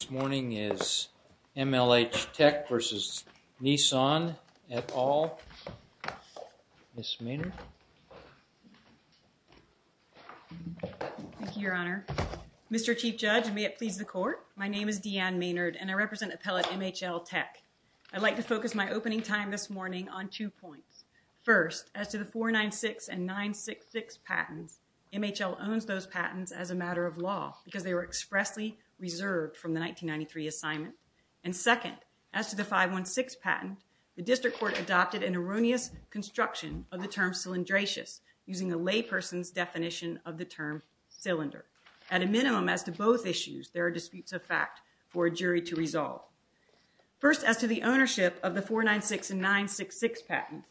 This morning is MLH TEK v. NISSAN, et al. Ms. Maynard. Thank you, Your Honor. Mr. Chief Judge, may it please the Court. My name is Deanne Maynard, and I represent Appellate MHL TEK. I'd like to focus my opening time this morning on two points. First, as to the 496 and 966 patents, MHL owns those patents as a matter of law because they were expressly reserved from the 1993 assignment. And second, as to the 516 patent, the District Court adopted an erroneous construction of the term cylindracious, using a layperson's definition of the term cylinder. At a minimum, as to both issues, there are disputes of fact for a jury to resolve. First, as to the ownership of the 496 and 966 patents,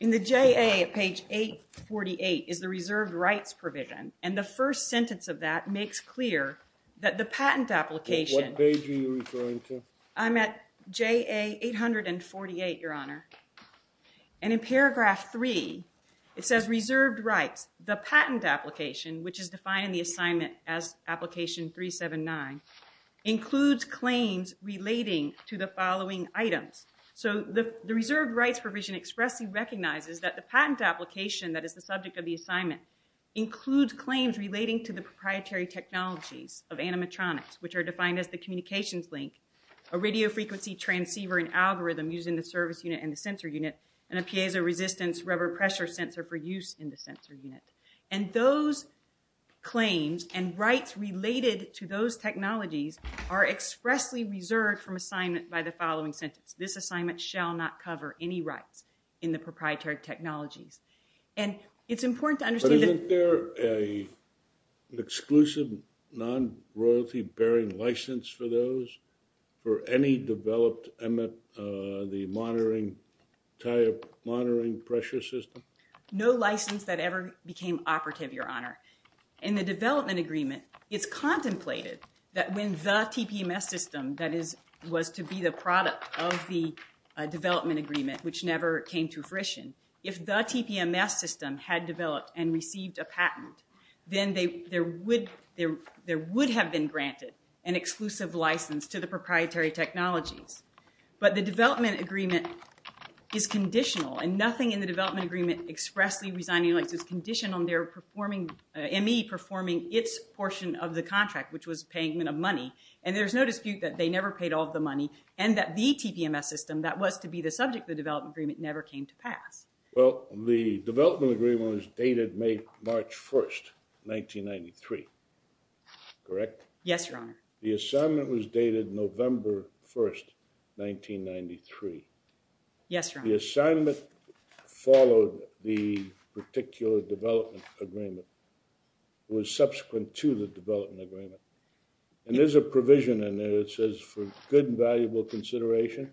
in the JA at page 848 is the first sentence of that makes clear that the patent application... What page are you referring to? I'm at JA 848, Your Honor. And in paragraph 3, it says reserved rights. The patent application, which is defined in the assignment as application 379, includes claims relating to the following items. So the reserved rights provision expressly recognizes that the patent application that is the subject of the assignment includes claims relating to the proprietary technologies of animatronics, which are defined as the communications link, a radio frequency transceiver and algorithm used in the service unit and the sensor unit, and a piezo resistance rubber pressure sensor for use in the sensor unit. And those claims and rights related to those technologies are expressly reserved from assignment by the following sentence. This assignment shall not cover any rights in the proprietary technologies. And it's important to understand that... But isn't there an exclusive non-royalty bearing license for those? For any developed MF, the monitoring, tire monitoring pressure system? No license that ever became operative, Your Honor. In the development agreement, it's contemplated that when the TPMS system that is, was to be the product of the development agreement, which never came to fruition, if the TPMS system had developed and received a patent, then there would have been granted an exclusive license to the proprietary technologies. But the development agreement is conditional, and nothing in the development agreement expressly resigning license is conditional on their performing, ME performing its portion of the contract, which was payment of money. And there's no dispute that they never paid all the money and that the TPMS system that was to be the subject of the development agreement never came to pass. Well, the development agreement was dated May, March 1st, 1993. Correct? Yes, Your Honor. The assignment was dated November 1st, 1993. Yes, Your Honor. The assignment followed the particular development agreement. Was subsequent to the development agreement. And there's a provision in there that says for good and valuable consideration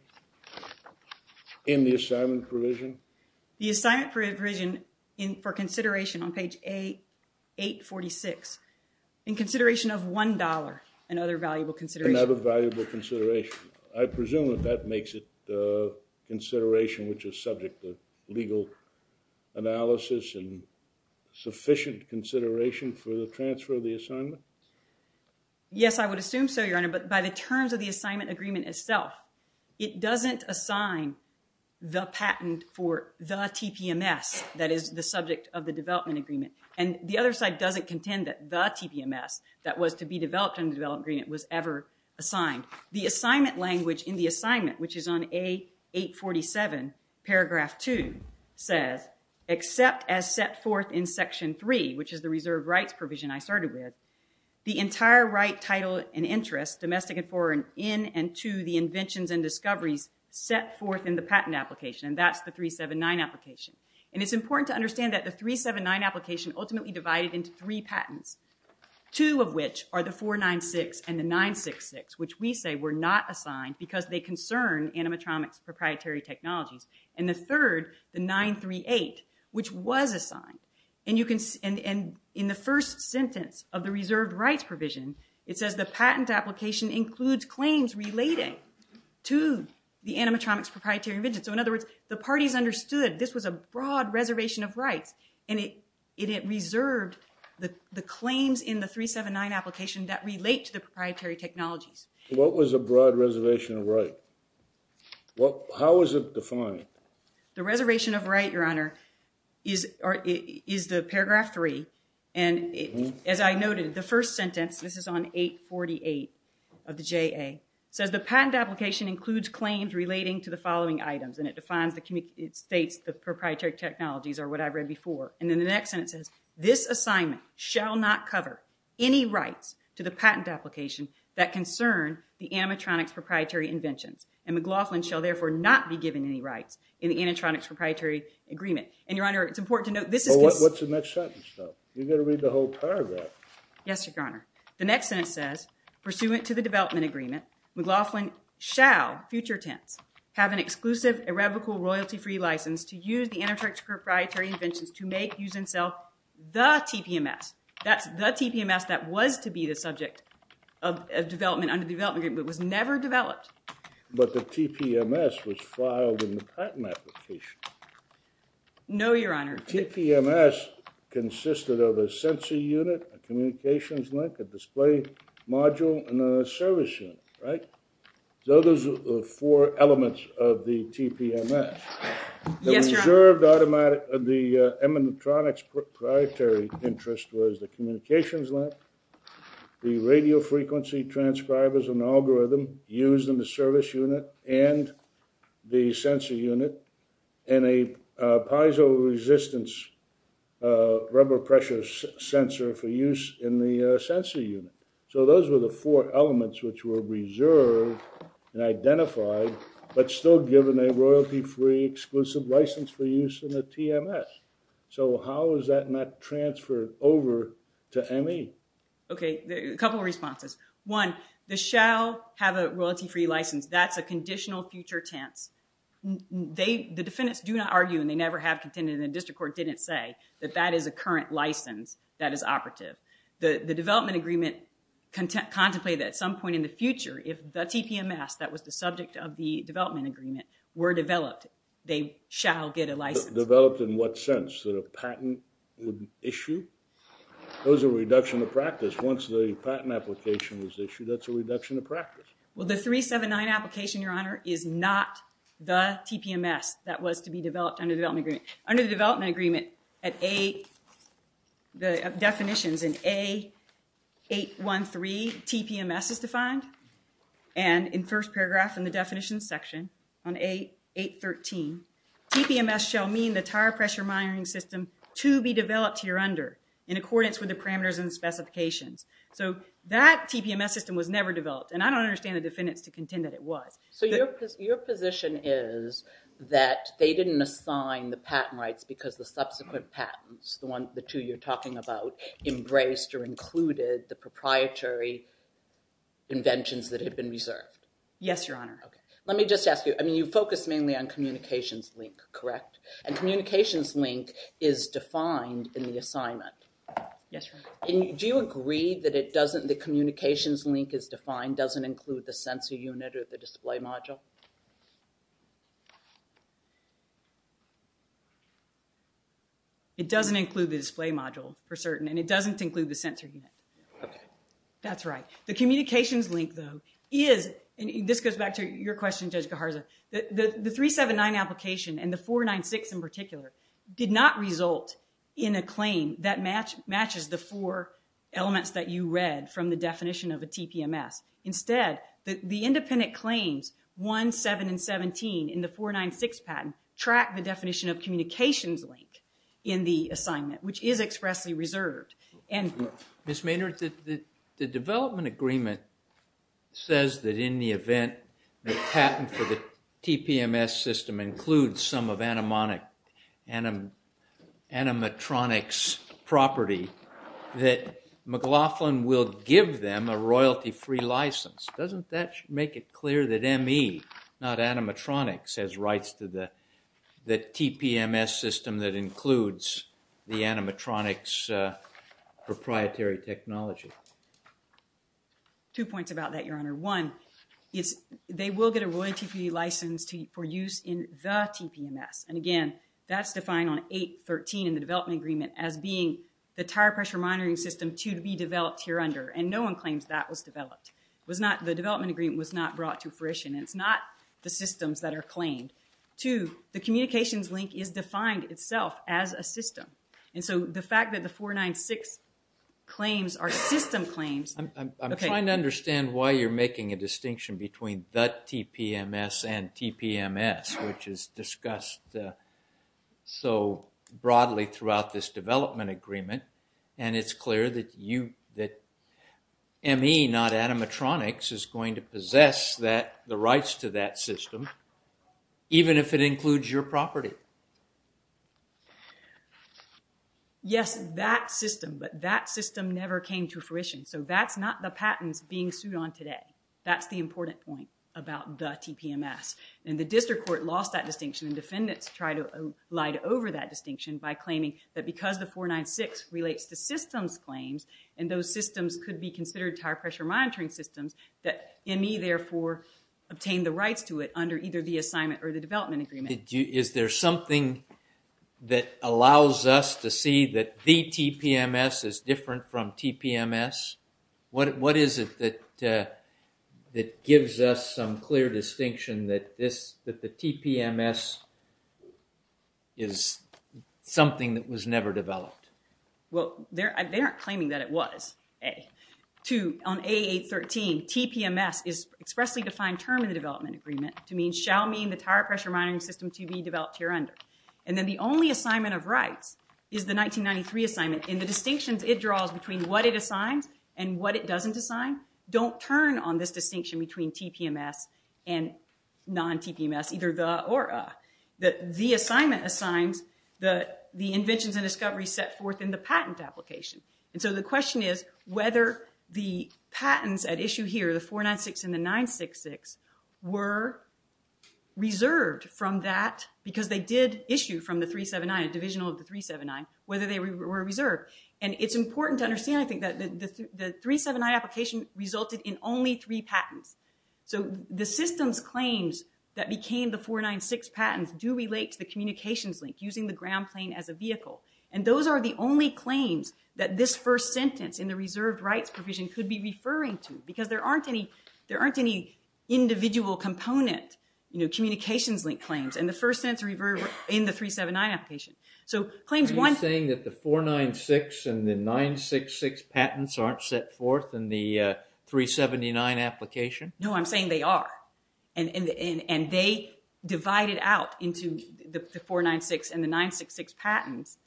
in the assignment provision. The assignment provision for consideration on page 846, in consideration of $1 and other valuable consideration. And other valuable consideration. I presume that that makes it consideration which is subject to legal analysis and sufficient consideration for the transfer of the assignment? Yes, I would assume so, Your Honor. But by the terms of the assignment agreement itself, it doesn't assign the patent for the TPMS that is the subject of the development agreement. And the other side doesn't contend that the TPMS that was to be developed in the development agreement was ever assigned. The assignment language in the assignment, which is on A847, paragraph 2, says, except as set forth in section 3, which is the reserve rights provision I started with, the entire right title and interest, domestic and foreign, in and to the inventions and discoveries set forth in the patent application. And that's the 379 application. And it's important to understand that the 379 application ultimately divided into three patents. Two of which are the 496 and the 966, which we say were not assigned because they concern animatronics proprietary technologies. And the third, the 938, which was assigned. And in the first sentence of the reserved rights provision, it says the patent application includes claims relating to the animatronics proprietary inventions. So in other words, the parties understood this was a broad reservation of rights. And it reserved the claims in the 379 application that relate to the proprietary technologies. What was a broad reservation of rights? Well, how is it defined? The reservation of right, Your Honor, is the paragraph 3. And as I noted, the first sentence, this is on 848 of the JA, says the patent application includes claims relating to the following items. And it defines the states, the proprietary technologies are what I read before. And then the next sentence says, this assignment shall not cover any rights to the patent application that concern the animatronics proprietary inventions. And McLaughlin shall, therefore, not be given any rights in the animatronics proprietary agreement. And, Your Honor, it's important to note, this is just- Well, what's in that sentence, though? You've got to read the whole paragraph. Yes, Your Honor. The next sentence says, pursuant to the development agreement, McLaughlin shall, future tense, have an exclusive irrevocable royalty-free license to use the animatronics proprietary inventions to make, use, and sell the TPMS. That's the TPMS that was to be the subject of development under the development agreement, but was never developed. But the TPMS was filed in the patent application. No, Your Honor. The TPMS consisted of a sensor unit, a communications link, a display module, and a service unit, right? So those are the four elements of the TPMS. Yes, Your Honor. The reserved automatic, the animatronics proprietary interest was the communications link, the service unit, and the sensor unit, and a piezo-resistance rubber pressure sensor for use in the sensor unit. So those were the four elements which were reserved and identified, but still given a royalty-free exclusive license for use in the TMS. So how is that not transferred over to ME? Okay, a couple of responses. One, the shall have a royalty-free license. That's a conditional future tense. The defendants do not argue, and they never have contended, and the district court didn't say that that is a current license that is operative. The development agreement contemplated at some point in the future, if the TPMS that was the subject of the development agreement were developed, they shall get a license. Developed in what sense? That a patent would issue? Those are reduction of practice. Once the patent application was issued, that's a reduction of practice. Well, the 379 application, Your Honor, is not the TPMS that was to be developed under the development agreement. Under the development agreement, at A, the definitions in A813, TPMS is defined, and in first paragraph in the definitions section on A813, TPMS shall mean the tire pressure monitoring system to be developed here under in accordance with the parameters and specifications. So that TPMS system was never developed, and I don't understand the defendants to contend that it was. So your position is that they didn't assign the patent rights because the subsequent patents, the two you're talking about, embraced or included the proprietary inventions that had been reserved? Yes, Your Honor. Okay. Let me just ask you. I mean, you focus mainly on communications link, correct? And communications link is defined in the assignment. Yes, Your Honor. Do you agree that the communications link is defined, doesn't include the sensor unit or the display module? It doesn't include the display module for certain, and it doesn't include the sensor unit. Okay. That's right. The communications link, though, is, and this goes back to your question, Judge Gaharza, the 379 application and the 496 in particular did not result in a claim that matches the four elements that you read from the definition of a TPMS. Instead, the independent claims 1, 7, and 17 in the 496 patent track the definition of communications link in the assignment, which is expressly reserved. Ms. Maynard, the development agreement says that in the event the patent for the TPMS system includes some of animatronics property, that McLaughlin will give them a royalty-free license. Doesn't that make it clear that ME, not animatronics, has rights to the TPMS system that includes the animatronics proprietary technology? Two points about that, Your Honor. One, they will get a royalty-free license for use in the TPMS. And again, that's defined on 8.13 in the development agreement as being the tire pressure monitoring system to be developed here under, and no one claims that was developed. The development agreement was not brought to fruition. It's not the systems that are claimed. Two, the communications link is defined itself as a system. And so the fact that the 496 claims are system claims... I'm trying to understand why you're making a distinction between the TPMS and TPMS, which is discussed so broadly throughout this development agreement. And it's clear that ME, not animatronics, is going to possess the rights to that system even if it includes your property. Yes, that system. But that system never came to fruition. So that's not the patents being sued on today. That's the important point about the TPMS. And the district court lost that distinction, and defendants tried to light over that distinction by claiming that because the 496 relates to systems claims, and those systems could be considered tire pressure monitoring systems, that ME therefore obtained the rights to it under either the assignment or the development agreement. Is there something that allows us to see that the TPMS is different from TPMS? What is it that gives us some clear distinction that the TPMS is something that was never developed? Well, they aren't claiming that it was. On A813, TPMS is expressly defined term in the development agreement to mean shall mean the tire pressure monitoring system to be developed here under. And then the only assignment of rights is the 1993 assignment. In the distinctions it draws between what it assigns and what it doesn't assign, don't turn on this distinction between TPMS and non-TPMS, either the or a. The assignment assigns the inventions and discoveries set forth in the patent application. And so the question is whether the patents at issue here, the 496 and the 966, were reserved from that because they did issue from the 379, a divisional of the 379, whether they were reserved. And it's important to understand, I think, that the 379 application resulted in only three patents. So the systems claims that became the 496 patents do relate to the communications link using the ground plane as a vehicle. And those are the only claims that this first sentence in the reserved rights provision could be referring to because there aren't any individual component communications link claims in the first sentence in the 379 application. Are you saying that the 496 and the 966 patents aren't set forth in the 379 application? No, I'm saying they are. And they divided out into the 496 and the 966 patents.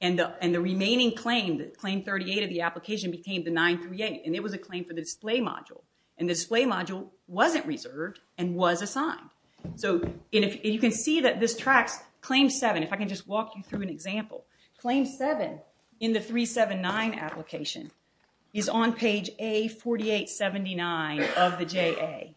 And the remaining claim, claim 38 of the application, became the 938. And it was a claim for the display module. And the display module wasn't reserved and was assigned. So you can see that this tracks claim 7. If I can just walk you through an example. Claim 7 in the 379 application is on page A4879 of the JA.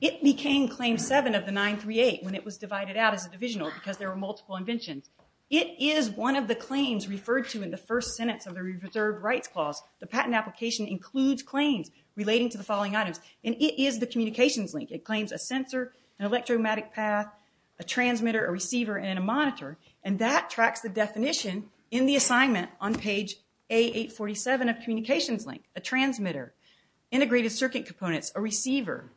It became claim 7 of the 938 when it was divided out as a divisional because there were multiple inventions. It is one of the claims referred to in the first sentence of the reserved rights clause. The patent application includes claims relating to the following items. And it is the communications link. It claims a sensor, an electromagnetic path, a transmitter, a receiver, and a monitor. And that tracks the definition in the assignment on page A847 of communications link. A transmitter, integrated circuit components, a receiver,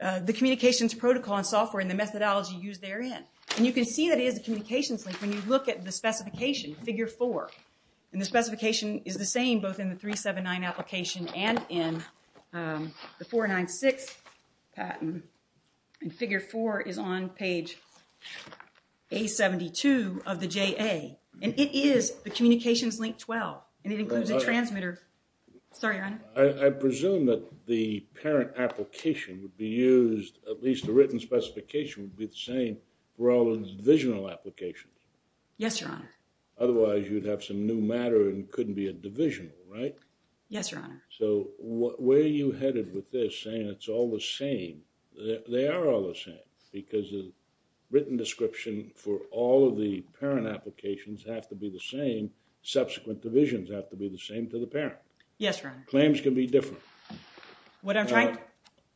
the communications protocol and software and the methodology used therein. And you can see that it is a communications link when you look at the specification, figure 4. And the specification is the same both in the 379 application and in the 496 patent. And figure 4 is on page A72 of the JA. And it is the communications link 12. And it includes a transmitter. Sorry, Your Honor. I presume that the parent application would be used, at least the written specification would be the same for all the divisional applications. Yes, Your Honor. Otherwise, you'd have some new matter and couldn't be a divisional, right? Yes, Your Honor. So, where are you headed with this saying it's all the same? They are all the same. Because the written description for all of the parent applications have to be the same. Subsequent divisions have to be the same to the parent. Yes, Your Honor. Claims can be different. What I'm trying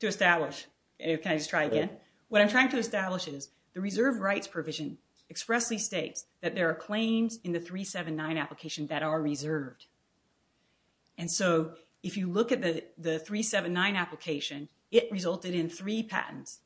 to establish, can I just try again? What I'm trying to establish is the reserved rights provision expressly states that there are claims in the 379 application that are reserved. And so, if you look at the 379 application, it resulted in three patents.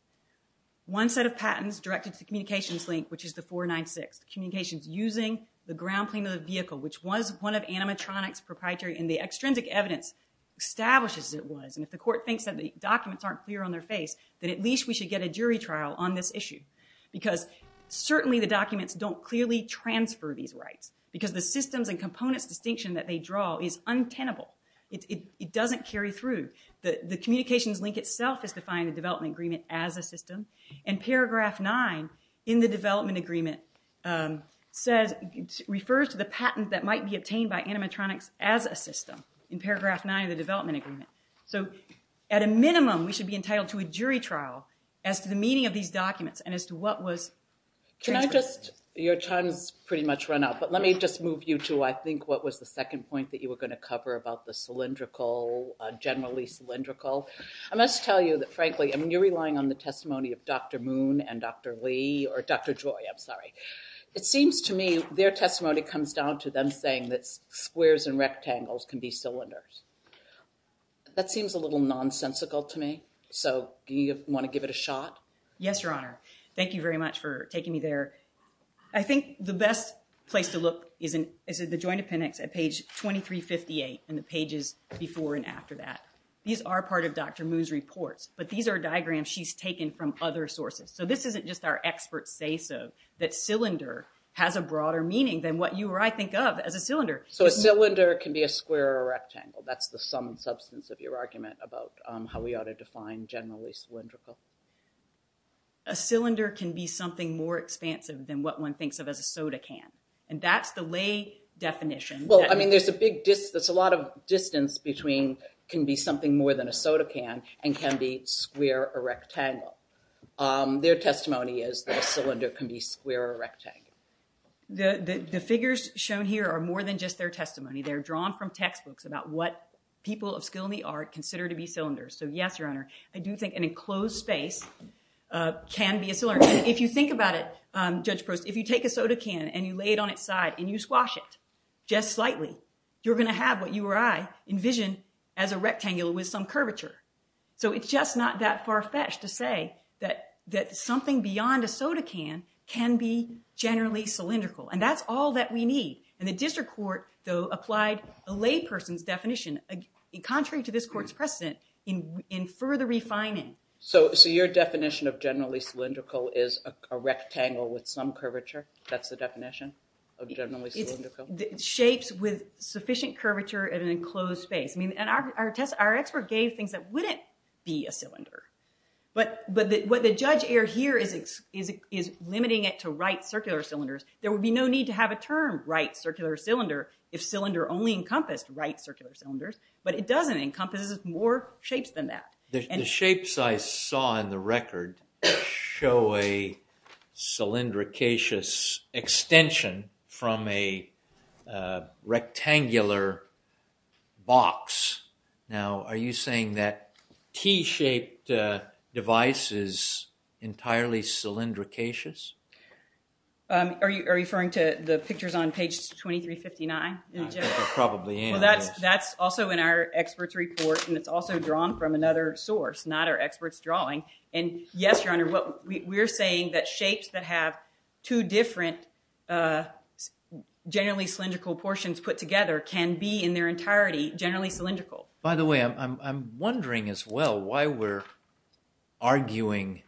One set of patents directed to the communications link, which is the 496. Communications using the ground plane of the vehicle, which was one of animatronics proprietary. And the extrinsic evidence establishes it was. And if the court thinks that the documents aren't clear on their face, then at least we should get a jury trial on this issue. Because certainly the documents don't clearly transfer these rights. Because the systems and components distinction that they draw is untenable. It doesn't carry through. The communications link itself is defined in the development agreement as a system. And paragraph 9 in the development agreement refers to the patent that might be obtained by animatronics as a system. In paragraph 9 of the development agreement. So, at a minimum, we should be entitled to a jury trial as to the meaning of these documents and as to what was transferred. Can I just, your time has pretty much run out, but let me just move you to, I think, what was the second point that you were going to cover about the cylindrical, generally cylindrical. I must tell you that, frankly, I mean, you're relying on the testimony of Dr. Moon and Dr. Lee, or Dr. Joy, I'm sorry. It seems to me their testimony comes down to them saying that squares and rectangles can be cylinders. That seems a little nonsensical to me. So, do you want to give it a shot? Yes, Your Honor. Thank you very much for taking me there. I think the best place to look is in the Joint Appendix at page 2358 in the pages before and after that. These are part of Dr. Moon's reports, but these are diagrams she's taken from other sources. So, this isn't just our expert say-so that cylinder has a broader meaning than what you or I think of as a cylinder. So, a cylinder can be a square or a rectangle. That's the sum and substance of your argument about how we ought to define generally cylindrical. A cylinder can be something more expansive than what one thinks of as a soda can. And that's the lay definition. Well, I mean, there's a lot of distance between can be something more than a soda can and can be square or rectangle. Their testimony is that a cylinder can be square or rectangle. The figures shown here are more than just their testimony. They're drawn from textbooks about what people of skill in the art consider to be cylinders. So, yes, Your Honor, I do think an enclosed space can be a cylinder. And if you think about it, Judge Prost, if you take a soda can and you lay it on its side and you squash it just slightly, you're going to have what you or I envision as a rectangle with some curvature. So, it's just not that far-fetched to say that something beyond a soda can can be generally cylindrical. And that's all that we need. And the district court, though, applied a lay person's definition contrary to this court's precedent in further refining. So, your definition of generally cylindrical is a rectangle with some curvature? That's the definition of generally cylindrical? Shapes with sufficient curvature in an enclosed space. I mean, our expert gave things that wouldn't be a cylinder. But what the judge erred here is limiting it to right circular cylinders. There would be no need to have a term right circular cylinder if cylinder only encompassed right circular cylinders. But it doesn't. It encompasses more shapes than that. The shapes I saw in the record show a cylindricatious extension from a rectangular box. Now, are you saying that T-shaped device is entirely cylindricatious? Are you referring to the pictures on page 2359? Probably. That's also in our expert's report and it's also drawn from another source not our expert's drawing. And yes, your honor, we're saying that shapes that have two different generally cylindrical portions put together can be in their entirety generally cylindrical. By the way, I'm wondering as well why we're arguing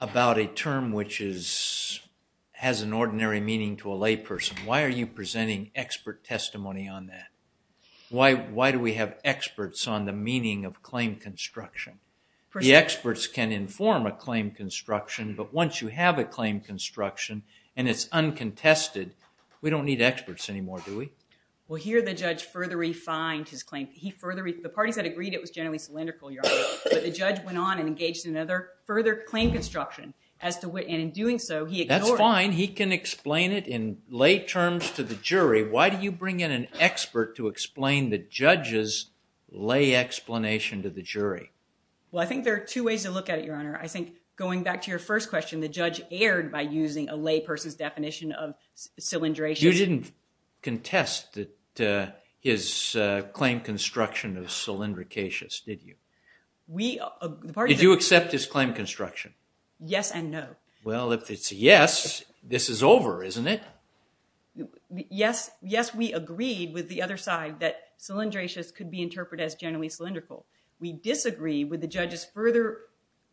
about a term which is has an ordinary meaning to a lay person. Why are you presenting expert testimony on that? Why do we have experts on the meaning of claim construction? The experts can inform a claim construction but once you have a claim construction and it's uncontested we don't need experts anymore, do we? Well, here the judge further refined his claim. The parties that agreed it was generally cylindrical, your honor, but the judge went on and engaged in another further claim construction and in doing so he ignored it. That's fine. He can explain it in lay terms to the jury. Why do you bring in an expert to explain the judge's lay explanation to the jury? Well, I think there are two ways to look at it, your honor. I think going back to your first question the judge erred by using a lay person's definition of cylindration. You didn't contest his claim construction of cylindricatious, did you? Did you accept his claim construction? Yes and no. Well, if it's a yes, this is over, isn't it? Yes, we agreed with the other side that cylindratious could be interpreted as generally cylindrical. We disagreed with the judge's further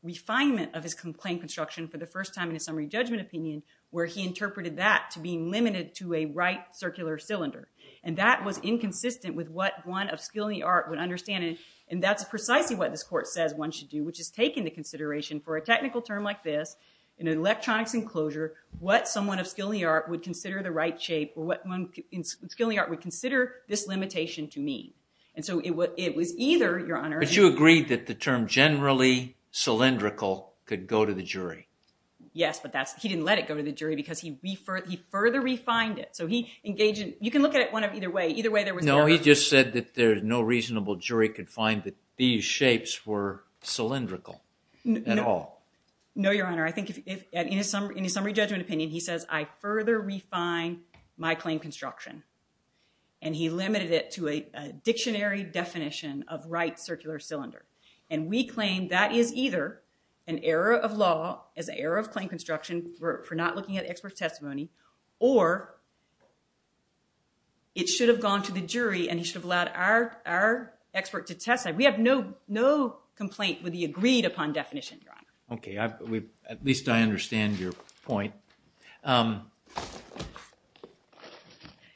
refinement of his claim construction for the first time in a summary judgment opinion where he interpreted that to be limited to a right circular cylinder and that was inconsistent with what one of skill and the art would understand and that's precisely what this court says one should do which is take into consideration for a technical term like this, in an electronics enclosure, what someone of skill and the art would consider the right shape would consider this limitation to mean. It was either, your honor... But you agreed that the term generally cylindrical could go to the jury. Yes, but he didn't let it go to the jury because he further refined it so he engaged in, you can look at it either way No, he just said that no reasonable jury could find that these shapes were cylindrical at all. No, your honor, I think in his summary judgment opinion, he says I further refine my claim construction and he limited it to a dictionary definition of right circular cylinder and we claim that is either an error of law as an error of expert testimony or it should have gone to the jury and he should have allowed our expert to testify. We have no complaint with the agreed upon definition, your honor. At least I understand your point.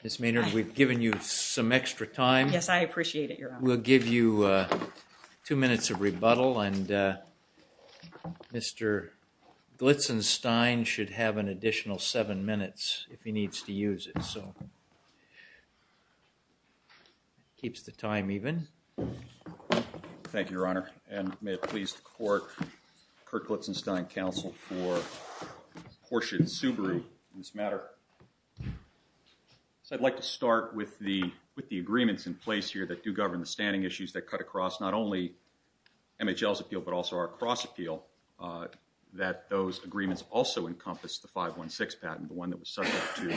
Ms. Maynard, we've given you some extra time. Yes, I appreciate it, your honor. We'll give you two minutes of rebuttal and Mr. Glitzenstein should have an additional seven minutes if he needs to use it. Keeps the time even. Thank you, your honor and may it please the court Kirk Glitzenstein, counsel for Portia and Subaru in this matter. I'd like to start with the agreements in place that do govern the standing issues that cut across not only MHL's appeal but also our cross appeal that those agreements also encompass the 516 patent, the one that was subject to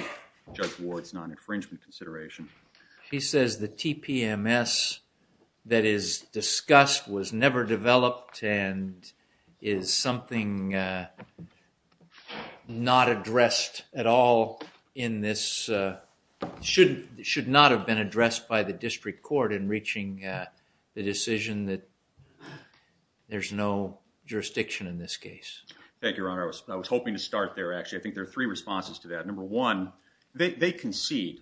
Judge Ward's non-infringement consideration. He says the TPMS that is discussed was never developed and is something not addressed at all in this, should not have been addressed by the district court in reaching the decision that there's no jurisdiction in this case. Thank you, your honor. I was hoping to start there actually. I think there are three responses to that. Number one, they concede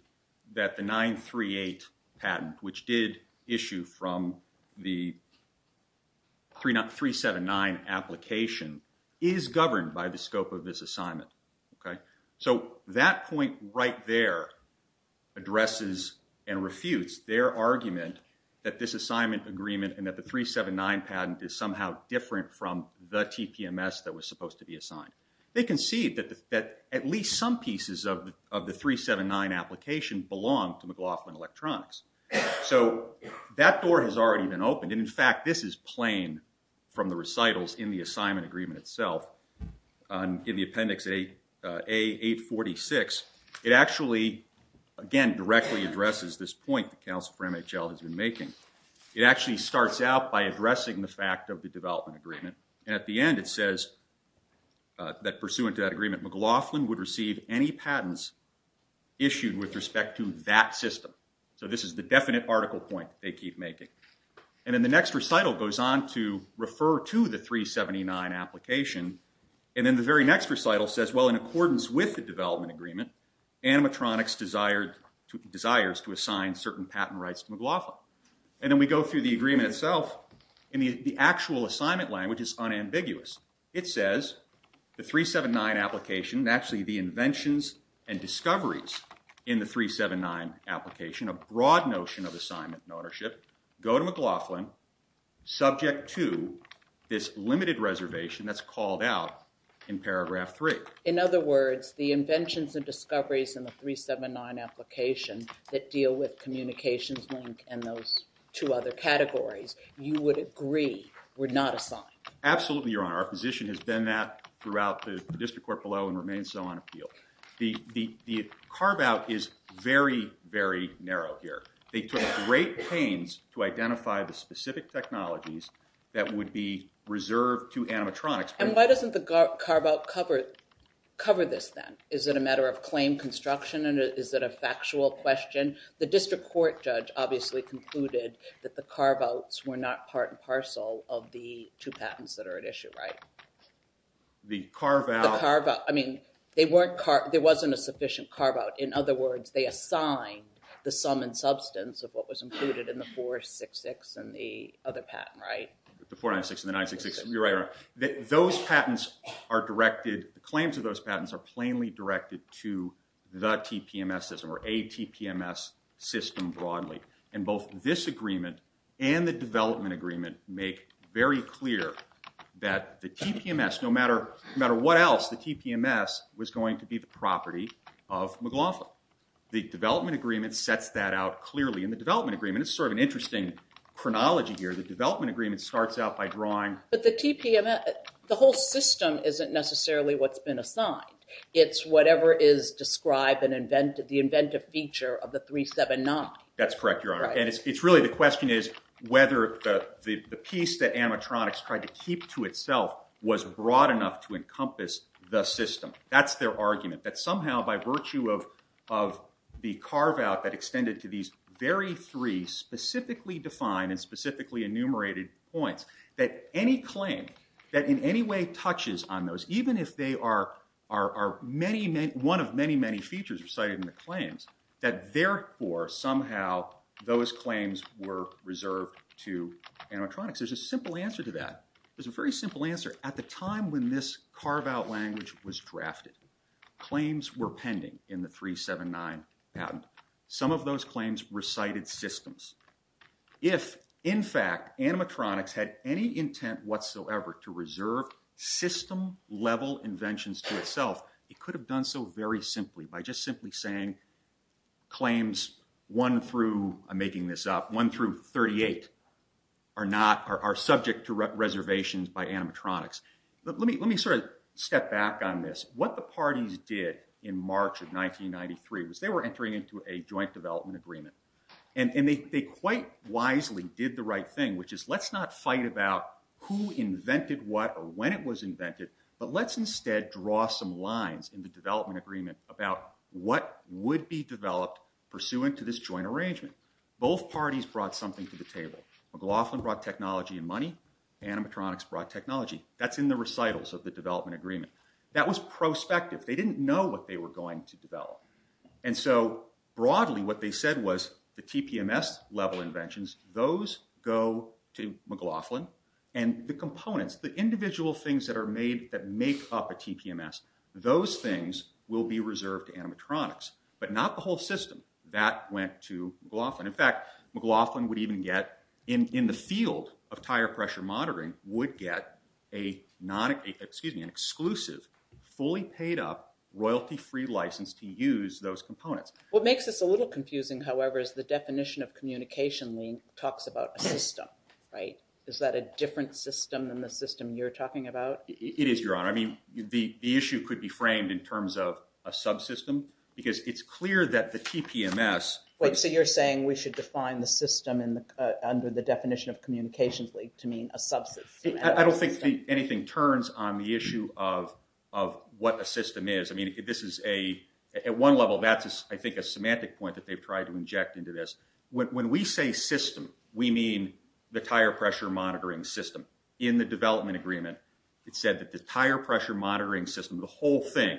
that the 938 patent which did issue from the 379 application is governed by the scope of this assignment. So, that point right there addresses and refutes their argument that this assignment agreement and that the 379 patent is somehow different from the TPMS that was supposed to be assigned. They concede that at least some pieces of the 379 application belong to McLaughlin Electronics. So, that door has already been opened and in fact this is plain from the recitals in the assignment agreement itself in the appendix A846 it actually again directly addresses this point that McLaughlin has been making. It actually starts out by addressing the fact of the development agreement and at the end it says that pursuant to that agreement McLaughlin would receive any patents issued with respect to that system. So, this is the definite article point they keep making. And then the next recital goes on to refer to the 379 application and then the very next recital says in accordance with the development agreement animatronics desires to assign certain patent rights to McLaughlin. And then we go through the agreement itself and the actual assignment language is unambiguous. It says the 379 application actually the inventions and discoveries in the 379 application, a broad notion of assignment and ownership, go to McLaughlin subject to this limited reservation that's called out in paragraph three. In other words, the inventions and discoveries in the 379 application that deal with communications link and those two other categories, you would agree were not assigned. Absolutely your honor. Our position has been that throughout the district court below and remains so on appeal. The carve out is very, very narrow here. They took great pains to identify the specific technologies that would be reserved to animatronics. And why doesn't the carve out cover cover this then? Is it a matter of claim construction and is it a factual question? The district court judge obviously concluded that the carve outs were not part and parcel of the two patents that are at issue, right? The carve out, I mean there wasn't a sufficient carve out in other words, they assigned the sum and substance of what was included in the 466 and the other patent right? The 496 and the 966, you're right. Those patents are directed, the claims of those patents are plainly directed to the TPMS system or a TPMS system broadly and both this agreement and the development agreement make very clear that the TPMS, no matter what else, the TPMS was going to be the property of McLaughlin. The development agreement sets that out clearly and the development agreement is sort of an interesting chronology here the development agreement starts out by drawing But the TPMS, the whole system isn't necessarily what's been assigned it's whatever is described and invented, the inventive feature of the 379. That's correct your honor and it's really the question is whether the piece that animatronics tried to keep to itself was broad enough to encompass the system. That's their argument that somehow by virtue of the carve out that extended to these very three specifically defined and specifically enumerated points that any claim that in any way touches on those even if they are one of many many features recited in the claims that therefore somehow those claims were reserved to animatronics. There's a simple answer to that there's a very simple answer at the time when this carve out language was drafted, claims were pending in the 379 patent. Some of those claims recited systems if in fact animatronics had any intent whatsoever to reserve system level inventions to itself it could have done so very simply by just simply saying claims 1 through I'm making this up 1 through 38 are not subject to reservations by animatronics. Let me sort of step back on this. What the parties did in March of 1993 was they were entering into a joint development agreement and they quite wisely did the right thing which is let's not fight about who invented what or when it was invented but let's instead draw some lines in the development agreement about what would be developed pursuant to this joint arrangement. Both parties brought something to the table McLaughlin brought technology and money animatronics brought technology that's in the recitals of the development agreement that was prospective. They didn't know what they were going to develop and so broadly what they said was the TPMS level inventions, those go to McLaughlin and the components, the individual things that are made that make up a TPMS those things will be reserved to animatronics but not the whole system. That went to McLaughlin. In fact McLaughlin would even get in the field of tire pressure monitoring would get an exclusive fully paid up royalty free license to use those components. What makes this a little confusing however is the definition of communication link talks about a system right? Is that a different system than the system you're talking about? It is your honor. I mean the issue could be framed in terms of a subsystem because it's clear that the TPMS. Wait so you're saying we should define the system under the definition of communications link to mean a subsystem. I don't think anything turns on the issue of what a system is. I mean this is a, at one level that's I think a semantic point that they've tried to inject into this. When we say system we mean the tire pressure monitoring system. In the development agreement it said that the tire pressure monitoring system, the whole thing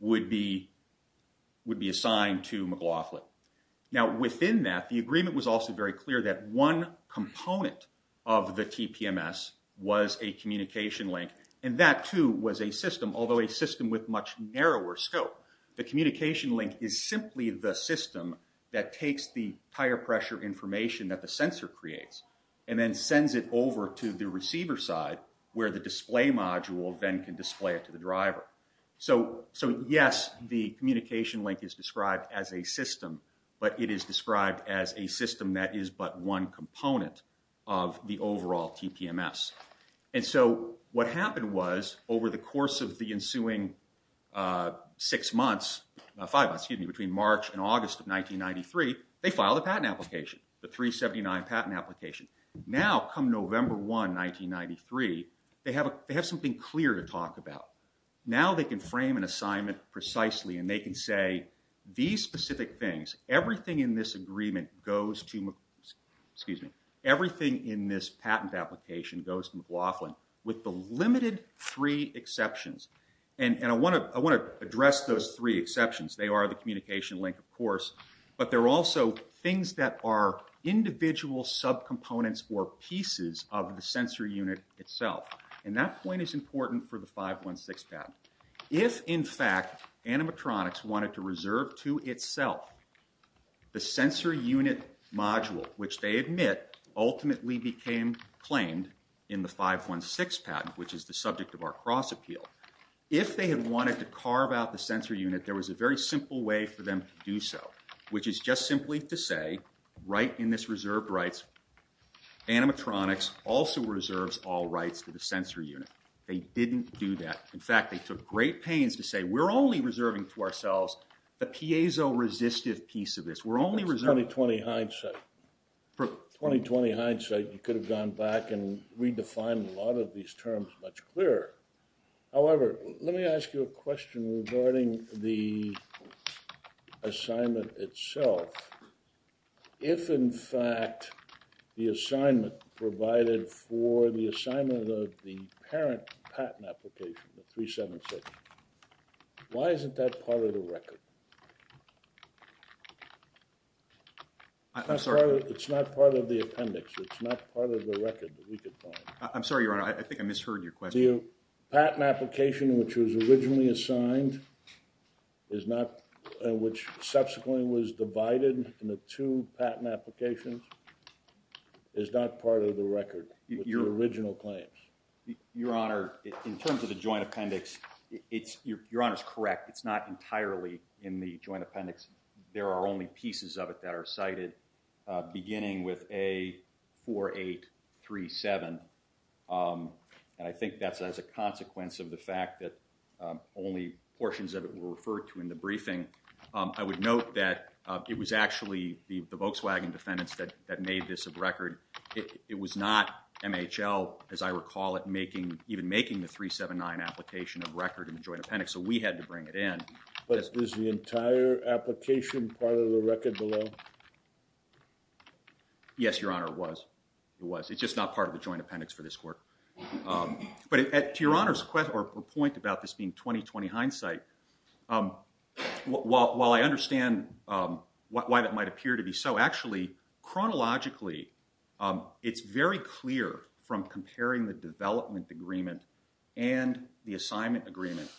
would be assigned to McLaughlin. Now within that the agreement was also very clear that one component of the TPMS was a communication link and that too was a system although a system with much narrower scope. The communication link is simply the system that takes the tire pressure information that the sensor creates and then sends it over to the receiver side where the display module then can display it to the driver. So yes the communication link is described as a system but it is described as a system that is but one component of the overall TPMS. And so what happened was over the course of the ensuing six months five months, excuse me, between March and August of 1993 they filed a patent application, the 379 patent application. Now come November 1, 1993 they have something clear to talk about. Now they can frame an assignment precisely and they can say these specific things, everything in this agreement goes to excuse me, everything in this patent application goes to McLaughlin with the limited three exceptions. And I want to address those three exceptions. They are the communication link of course but they're also things that are individual subcomponents or pieces of the sensor unit itself. And that point is important for the 516 patent. If in fact animatronics wanted to reserve to itself the sensor unit module which they admit ultimately became claimed in the 516 patent which is the subject of our cross appeal. If they had wanted to carve out the sensor unit there was a very simple way for them to do so which is just simply to say right in this reserved rights animatronics also reserves all rights to the sensor unit. They didn't do that. In fact they took great pains to say we're only reserving to ourselves the piezo resistive piece of this. That's 2020 hindsight. 2020 hindsight you could have gone back and redefined a lot of these terms much clearer. However, let me ask you a question regarding the assignment itself. If in fact the assignment provided for the assignment of the parent patent application the 376 why isn't that part of the record? I'm sorry. It's not part of the appendix. It's not part of the record that we could find. I'm sorry your honor. I think I misheard your question. The patent application which was originally assigned is not which subsequently was divided in the two patent applications is not part of the record with the original claims. Your honor, in terms of the joint appendix your honor is correct. It's not entirely in the joint appendix. There are a number of pieces of it that are cited beginning with A4837 and I think that's as a consequence of the fact that only portions of it were referred to in the briefing. I would note that it was actually the Volkswagen defendants that made this a record. It was not MHL as I recall it making even making the 379 application a record in the joint appendix so we had to bring it in. But is the entire application part of the record below? Yes your honor, it was. It's just not part of the joint appendix for this court. But to your honor's point about this being 2020 hindsight while I understand why that might appear to be so, actually, chronologically it's very clear from comparing the development agreement and the assignment agreement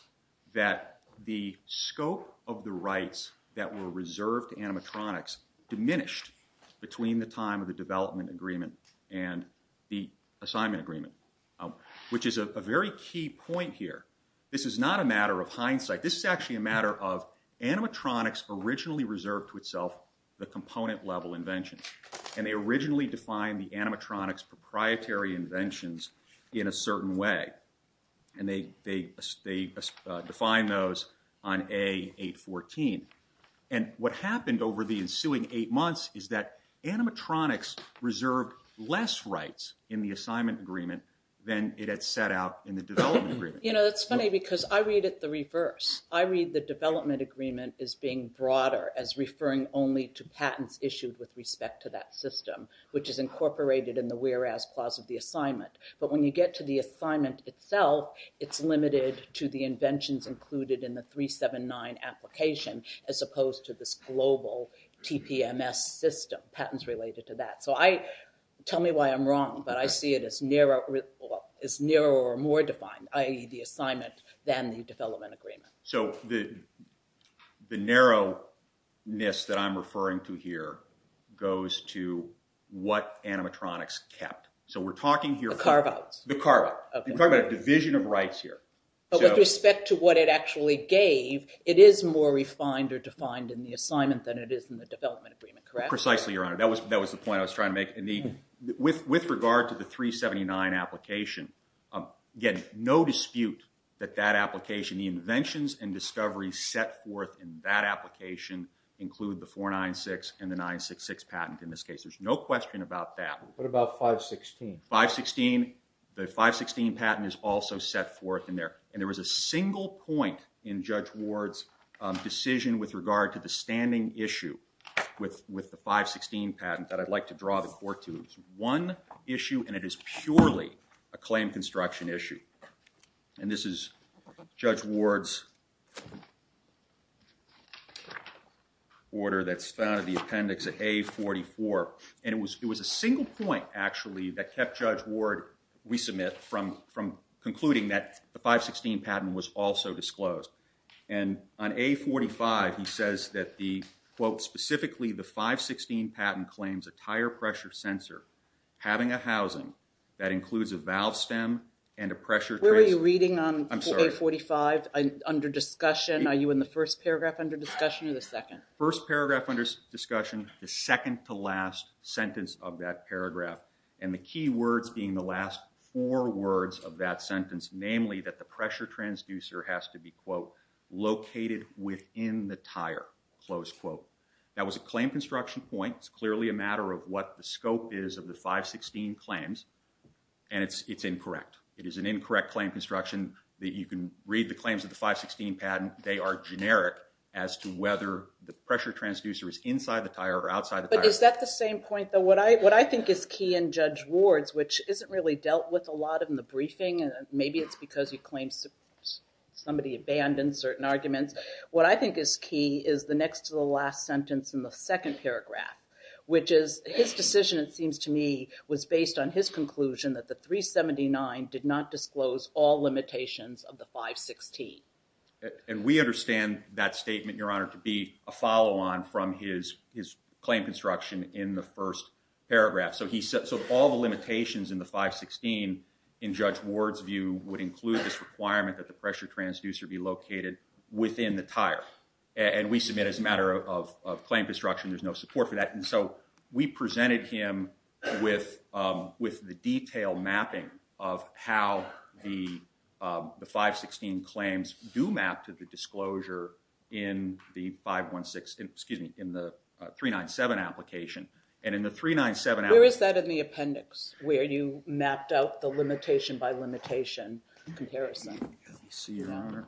that the scope of the rights that were reserved to animatronics diminished between the time of the development agreement and the assignment agreement which is a very key point here. This is not a matter of hindsight. This is actually a matter of animatronics originally reserved to itself the component level invention and they originally defined the animatronics proprietary inventions in a certain way and they defined those on A814 and what happened over the ensuing eight months is that animatronics reserved less rights in the assignment agreement than it had set out in the development agreement. You know it's funny because I read it the reverse. I read the development agreement as being broader as referring only to patents issued with respect to that system which is incorporated in the whereas clause of the assignment but when you get to the assignment itself it's limited to the inventions included in the 379 application as opposed to this global TPMS system, patents related to that. So I, tell me why I'm wrong but I see it as narrow or more defined the assignment than the development agreement. So the narrowness that I'm referring to here goes to what animatronics kept. So we're talking here. The carve outs. The carve outs. We're talking about a division of rights here. But with respect to what it actually gave, it is more refined or defined in the assignment than it is in the development agreement, correct? Precisely, Your Honor. That was the point I was trying to make. With regard to the 379 application, again no dispute that that application the inventions and discoveries set forth in that application include the 496 and the 966 patent in this case. There's no question about that. What about 516? 516. The 516 patent is also set forth in there and there was a single point in Judge Ward's decision with regard to the standing issue with the 516 patent that I'd like to draw the court to. One issue and it is purely a claim construction issue. And this is Judge Ward's order that's found in the appendix of A44. And it was a single point actually that kept Judge Ward, we submit, from concluding that the 516 patent was also disclosed. And on A45 he says that the quote specifically the 516 patent claims a tire pressure sensor having a housing that includes a valve stem and a pressure Where were you reading on A45? Under discussion? Are you in the first paragraph under discussion or the second? First paragraph under discussion. The second to last sentence of that paragraph. And the key words being the last four words of that sentence. Namely that the pressure transducer has to be quote located within the tire. Close quote. That was a claim construction point. It's clearly a matter of what the scope is of the 516 claims. And it's incorrect. It is an incorrect claim construction that you can read the claims of the 516 patent. They are generic as to whether the pressure transducer is inside the tire or outside the tire. But is that the same point though? What I think is key in Judge Ward's which isn't really dealt with a lot of in the briefing and maybe it's because he claims somebody abandoned certain arguments. What I think is key is the next to the last sentence in the second paragraph. Which is his decision it seems to me was based on his conclusion that the 379 did not disclose all limitations of the 516. And we understand that statement your honor to be a follow on from his claim construction in the first paragraph. So all the limitations in the 516 in Judge Ward's view would include this requirement that the pressure transducer be located within the tire. And we submit as a matter of claim construction there's no support for that. And so we presented him with the detail mapping of how the 516 claims do map to the disclosure in the 516 excuse me in the 397 application. And in the 397 Where is that in the appendix where you mapped out the limitation by limitation comparison? Let me see your honor.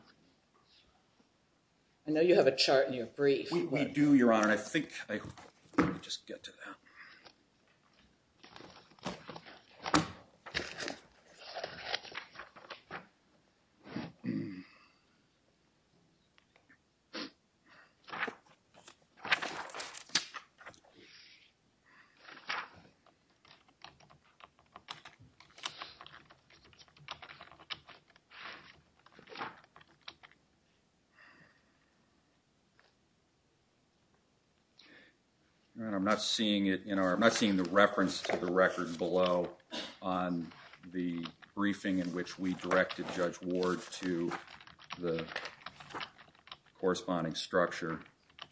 I know you have a chart in your brief. We do your honor and I think I'll just get to that. All right. I'm not seeing it in I'm not seeing the reference to the record below on the briefing in which we directed Judge Ward to the corresponding structure.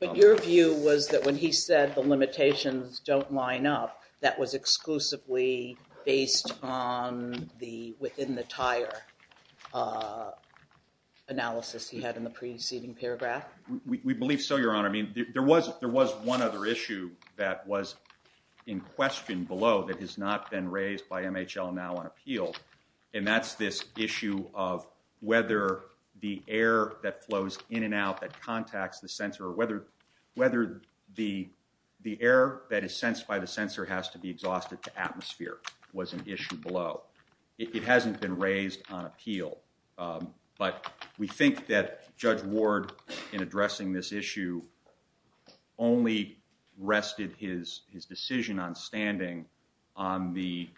But your view was that when he said the limitations don't line up that was exclusively based on the within the tire analysis he had in the preceding paragraph? We believe so your honor. I mean there was one other issue that was in question below that has not been raised by MHL now on appeal and that's this issue of whether the air that flows in and out that contacts the sensor whether the air that is sensed by the sensor has to be exhausted to atmosphere was an issue below. It hasn't been raised on appeal but we think that Judge Ward in addressing this issue only rested his decision on standing on the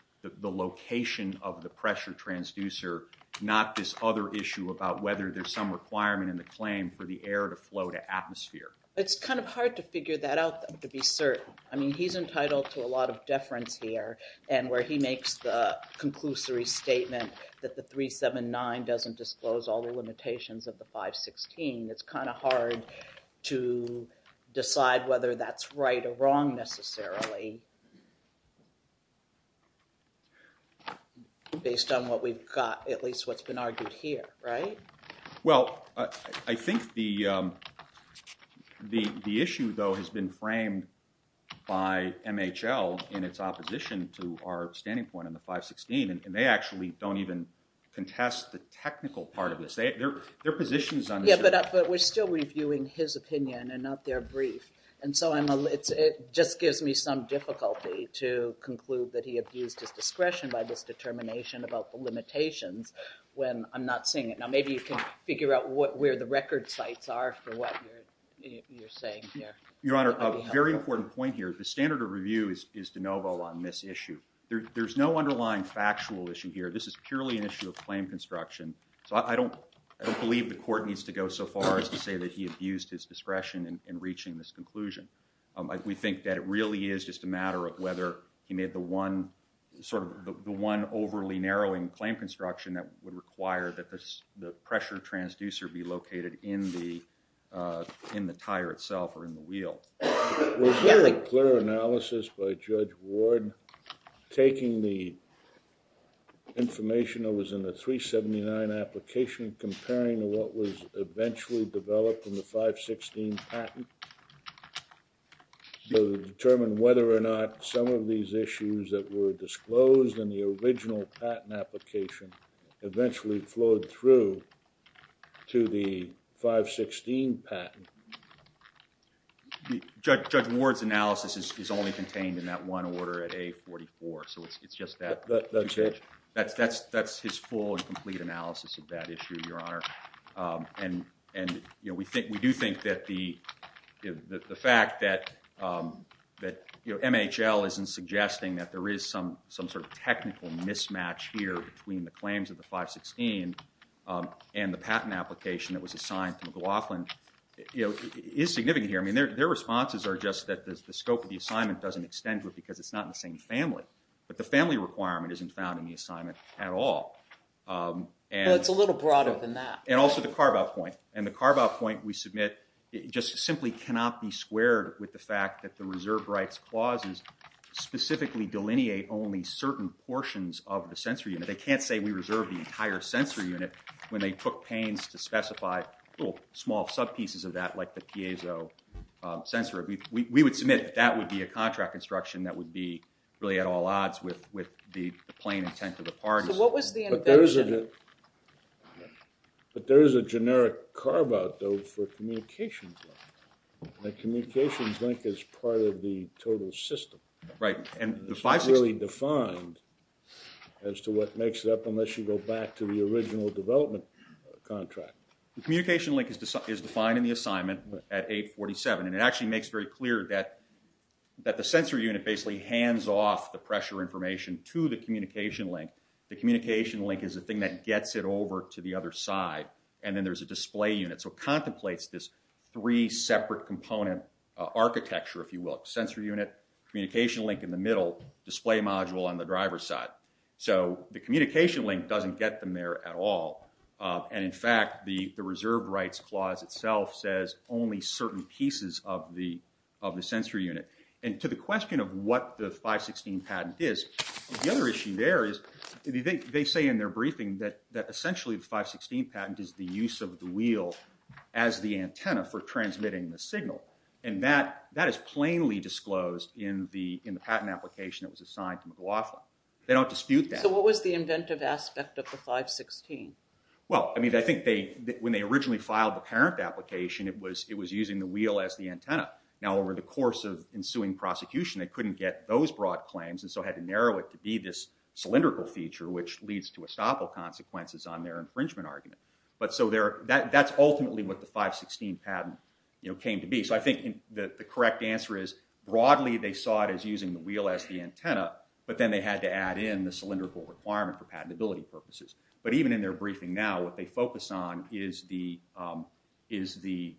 location of the pressure transducer not this other issue about whether there's some requirement in the claim for the air to flow to atmosphere. It's kind of hard to figure that out to be certain. I mean he's entitled to a lot of deference here and where he makes the conclusory statement that the 379 doesn't disclose all the limitations of the 516 it's kind of hard to decide whether that's right or wrong necessarily based on what we've got, at least what's been argued here, right? Well, I think the issue though has been framed by MHL in its opposition to our standing point on the 516 and they actually don't even contest the technical part of this. Their position is understood. But we're still reviewing his opinion and not their brief and so it just gives me some difficulty to conclude that he abused his discretion by this determination about the limitations when I'm not seeing it. Now maybe you can figure out where the record sites are for what you're saying here. Your Honor, a very important point here. The standard of review is de novo on this issue. There's no underlying factual issue here. This is purely an issue of claim construction. So I don't believe the court needs to go so far as to say that he abused his discretion in reaching this conclusion. We think that it really is just a matter of whether he made the one sort of the one overly narrowing claim construction that would require that the pressure transducer be located in the tire itself or in the wheel. Was there a clear analysis by Judge Ward taking the 379 application comparing to what was eventually developed in the 516 patent to determine whether or not some of these issues that were disclosed in the original patent application eventually flowed through to the 516 patent? Judge Ward's analysis is only contained in that one order at A44 so it's just that. That's his full and complete analysis of that issue Your Honor. We do think that the fact that MHL isn't suggesting that there is some sort of technical mismatch here between the claims of the 516 and the patent application that was assigned to McLaughlin is significant here. Their responses are just that the scope of the assignment doesn't extend to it because it's not in the same family. But the family requirement isn't found in the assignment at all. It's a little broader than that. And also the carve-out point. The carve-out point we submit simply cannot be squared with the fact that the reserve rights clauses specifically delineate only certain portions of the sensory unit. They can't say we reserve the entire sensory unit when they took pains to specify little small sub-pieces of that like the piezo sensor. We would submit that that would be a contract instruction that would be really at all odds with the plain intent of the parties. But there is a generic carve-out though for communications that communications link is part of the total system. It's not really defined as to what makes it up unless you go back to the original development contract. The communication link is defined in the assignment at 847 and it actually makes very clear that the sensory unit basically hands off the pressure information to the communication link. The communication link is a thing that gets it over to the other side and then there's a display unit. So it contemplates this three separate component architecture if you will. Sensory unit, communication link in the middle, display module on the driver's side. So the communication link doesn't get them there at all. And in fact the reserve rights clause itself says only certain pieces of the sensory unit. And to the question of what the 516 patent is, the other issue there is they say in their briefing that essentially the 516 patent is the use of the wheel as the antenna for transmitting the signal. And that is plainly disclosed in the patent application that was assigned to McLaughlin. They don't dispute that. So what was the inventive aspect of the 516? Well, I mean I think when they originally filed the parent application it was using the wheel as the antenna. Now over the course of ensuing prosecution they couldn't get those broad claims and so had to narrow it to be this cylindrical feature which leads to estoppel consequences on their infringement argument. But so that's ultimately what the 516 patent came to be. So I think the correct answer is broadly they saw it as using the wheel as the antenna but then they had to add in the cylindrical requirement for patentability purposes. But even in their is the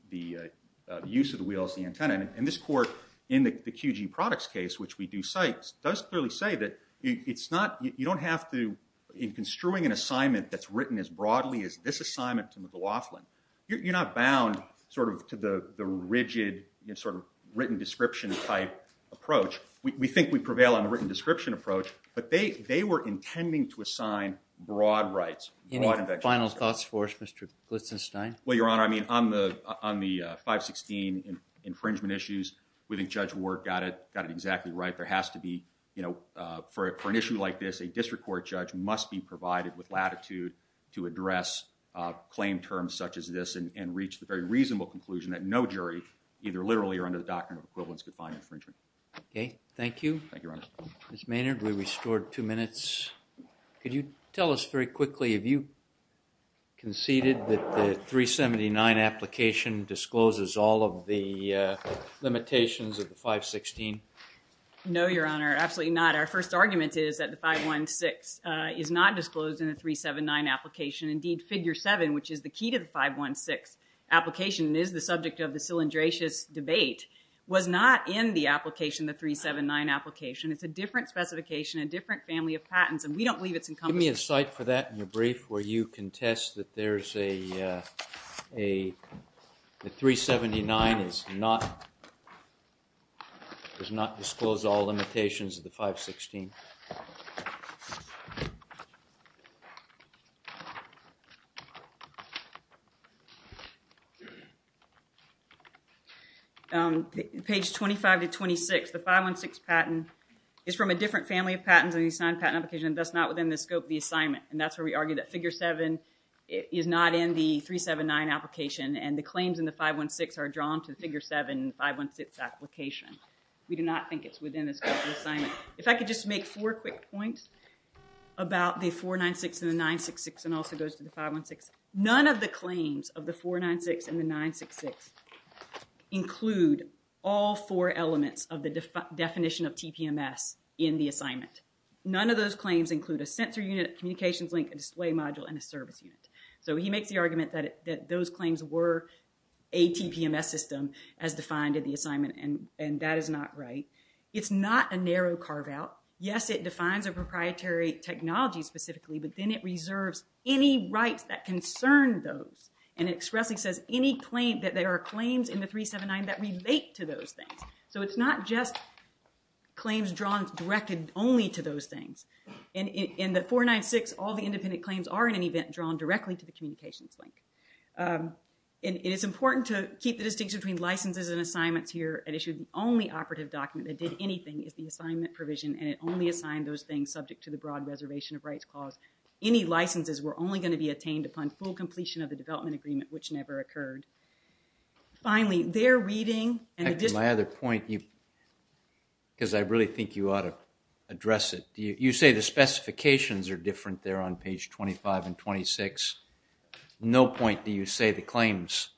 use of the wheel as the antenna and this court in the QG products case which we do cite does clearly say that it's not, you don't have to, in construing an assignment that's written as broadly as this assignment to McLaughlin, you're not bound sort of to the rigid sort of written description type approach. We think we prevail on the written description approach but they were intending to assign broad rights. Any final thoughts for us Mr. Glitzenstein? Well your honor, I mean on the 516 infringement issues, we think Judge Ward got it exactly right. There has to be you know, for an issue like this a district court judge must be provided with latitude to address claim terms such as this and reach the very reasonable conclusion that no jury either literally or under the doctrine of equivalence could find infringement. Thank you. Thank you your honor. Ms. Maynard, we restored two minutes. Could you tell us very quickly, have you conceded that the 379 application discloses all of the limitations of the 516? No your honor, absolutely not. Our first argument is that the 516 is not disclosed in the 379 application. Indeed, figure 7, which is the key to the 516 application and is the subject of the cylindricious debate was not in the application of the 379 application. It's a different family of patents and we don't believe it's encompassing. Give me a cite for that in your brief where you contest that there's a a 379 is not is not disclosed all limitations of the 516. Page 25 to 26, the 516 patent is from a different family of patents in the assigned patent application. That's not within the scope of the assignment and that's where we argue that figure 7 is not in the 379 application and the claims in the 516 are drawn to the figure 7 516 application. We do not think it's within the scope of the assignment. If I could just make four quick points about the 496 and the 966 and also goes to the 516. None of the claims of the 496 and the 966 include all four elements of the definition of TPMS in the assignment. None of those claims include a sensor unit, communications link, a display module, and a service unit. So he makes the argument that those claims were a TPMS system as defined in the assignment and that is not right. It's not a narrow carve out. Yes, it defines a proprietary technology specifically but then it reserves any rights that concern those and expressly says any claim that there are claims in the those things. So it's not just claims drawn directly only to those things. In the 496, all the independent claims are in any event drawn directly to the communications link. It is important to keep the distinction between licenses and assignments here and issued only operative document that did anything is the assignment provision and it only assigned those things subject to the broad reservation of rights clause. Any licenses were only going to be attained upon full completion of the development agreement which never occurred. Finally, their reading and my other point, because I really think you ought to address it. You say the specifications are different there on page 25 and 26. No point do you say the claims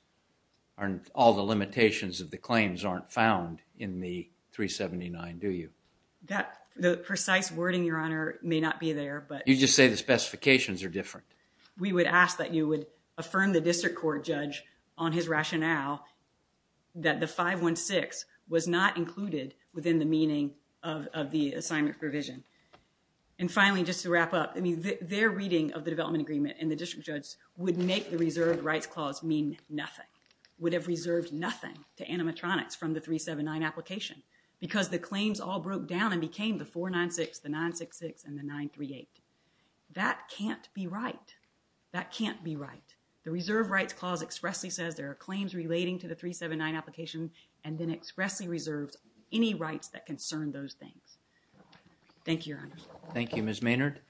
aren't all the limitations of the claims aren't found in the 379, do you? The precise wording, Your Honor, may not be there. You just say the specifications are different. We would ask that you would affirm the district court judge on his rationale that the 516 was not included within the meaning of the assignment provision. Finally, just to wrap up, their reading of the development agreement and the district judge would make the reserved rights clause mean nothing. Would have reserved nothing to animatronics from the 379 application because the claims all broke down and became the 496, the 966, and the 938. That can't be right. That can't be right. The reserved rights clause expressly says there are claims relating to the 379 application and then expressly reserves any rights that concern those things. Thank you, Your Honor. Thank you, Ms. Maynard.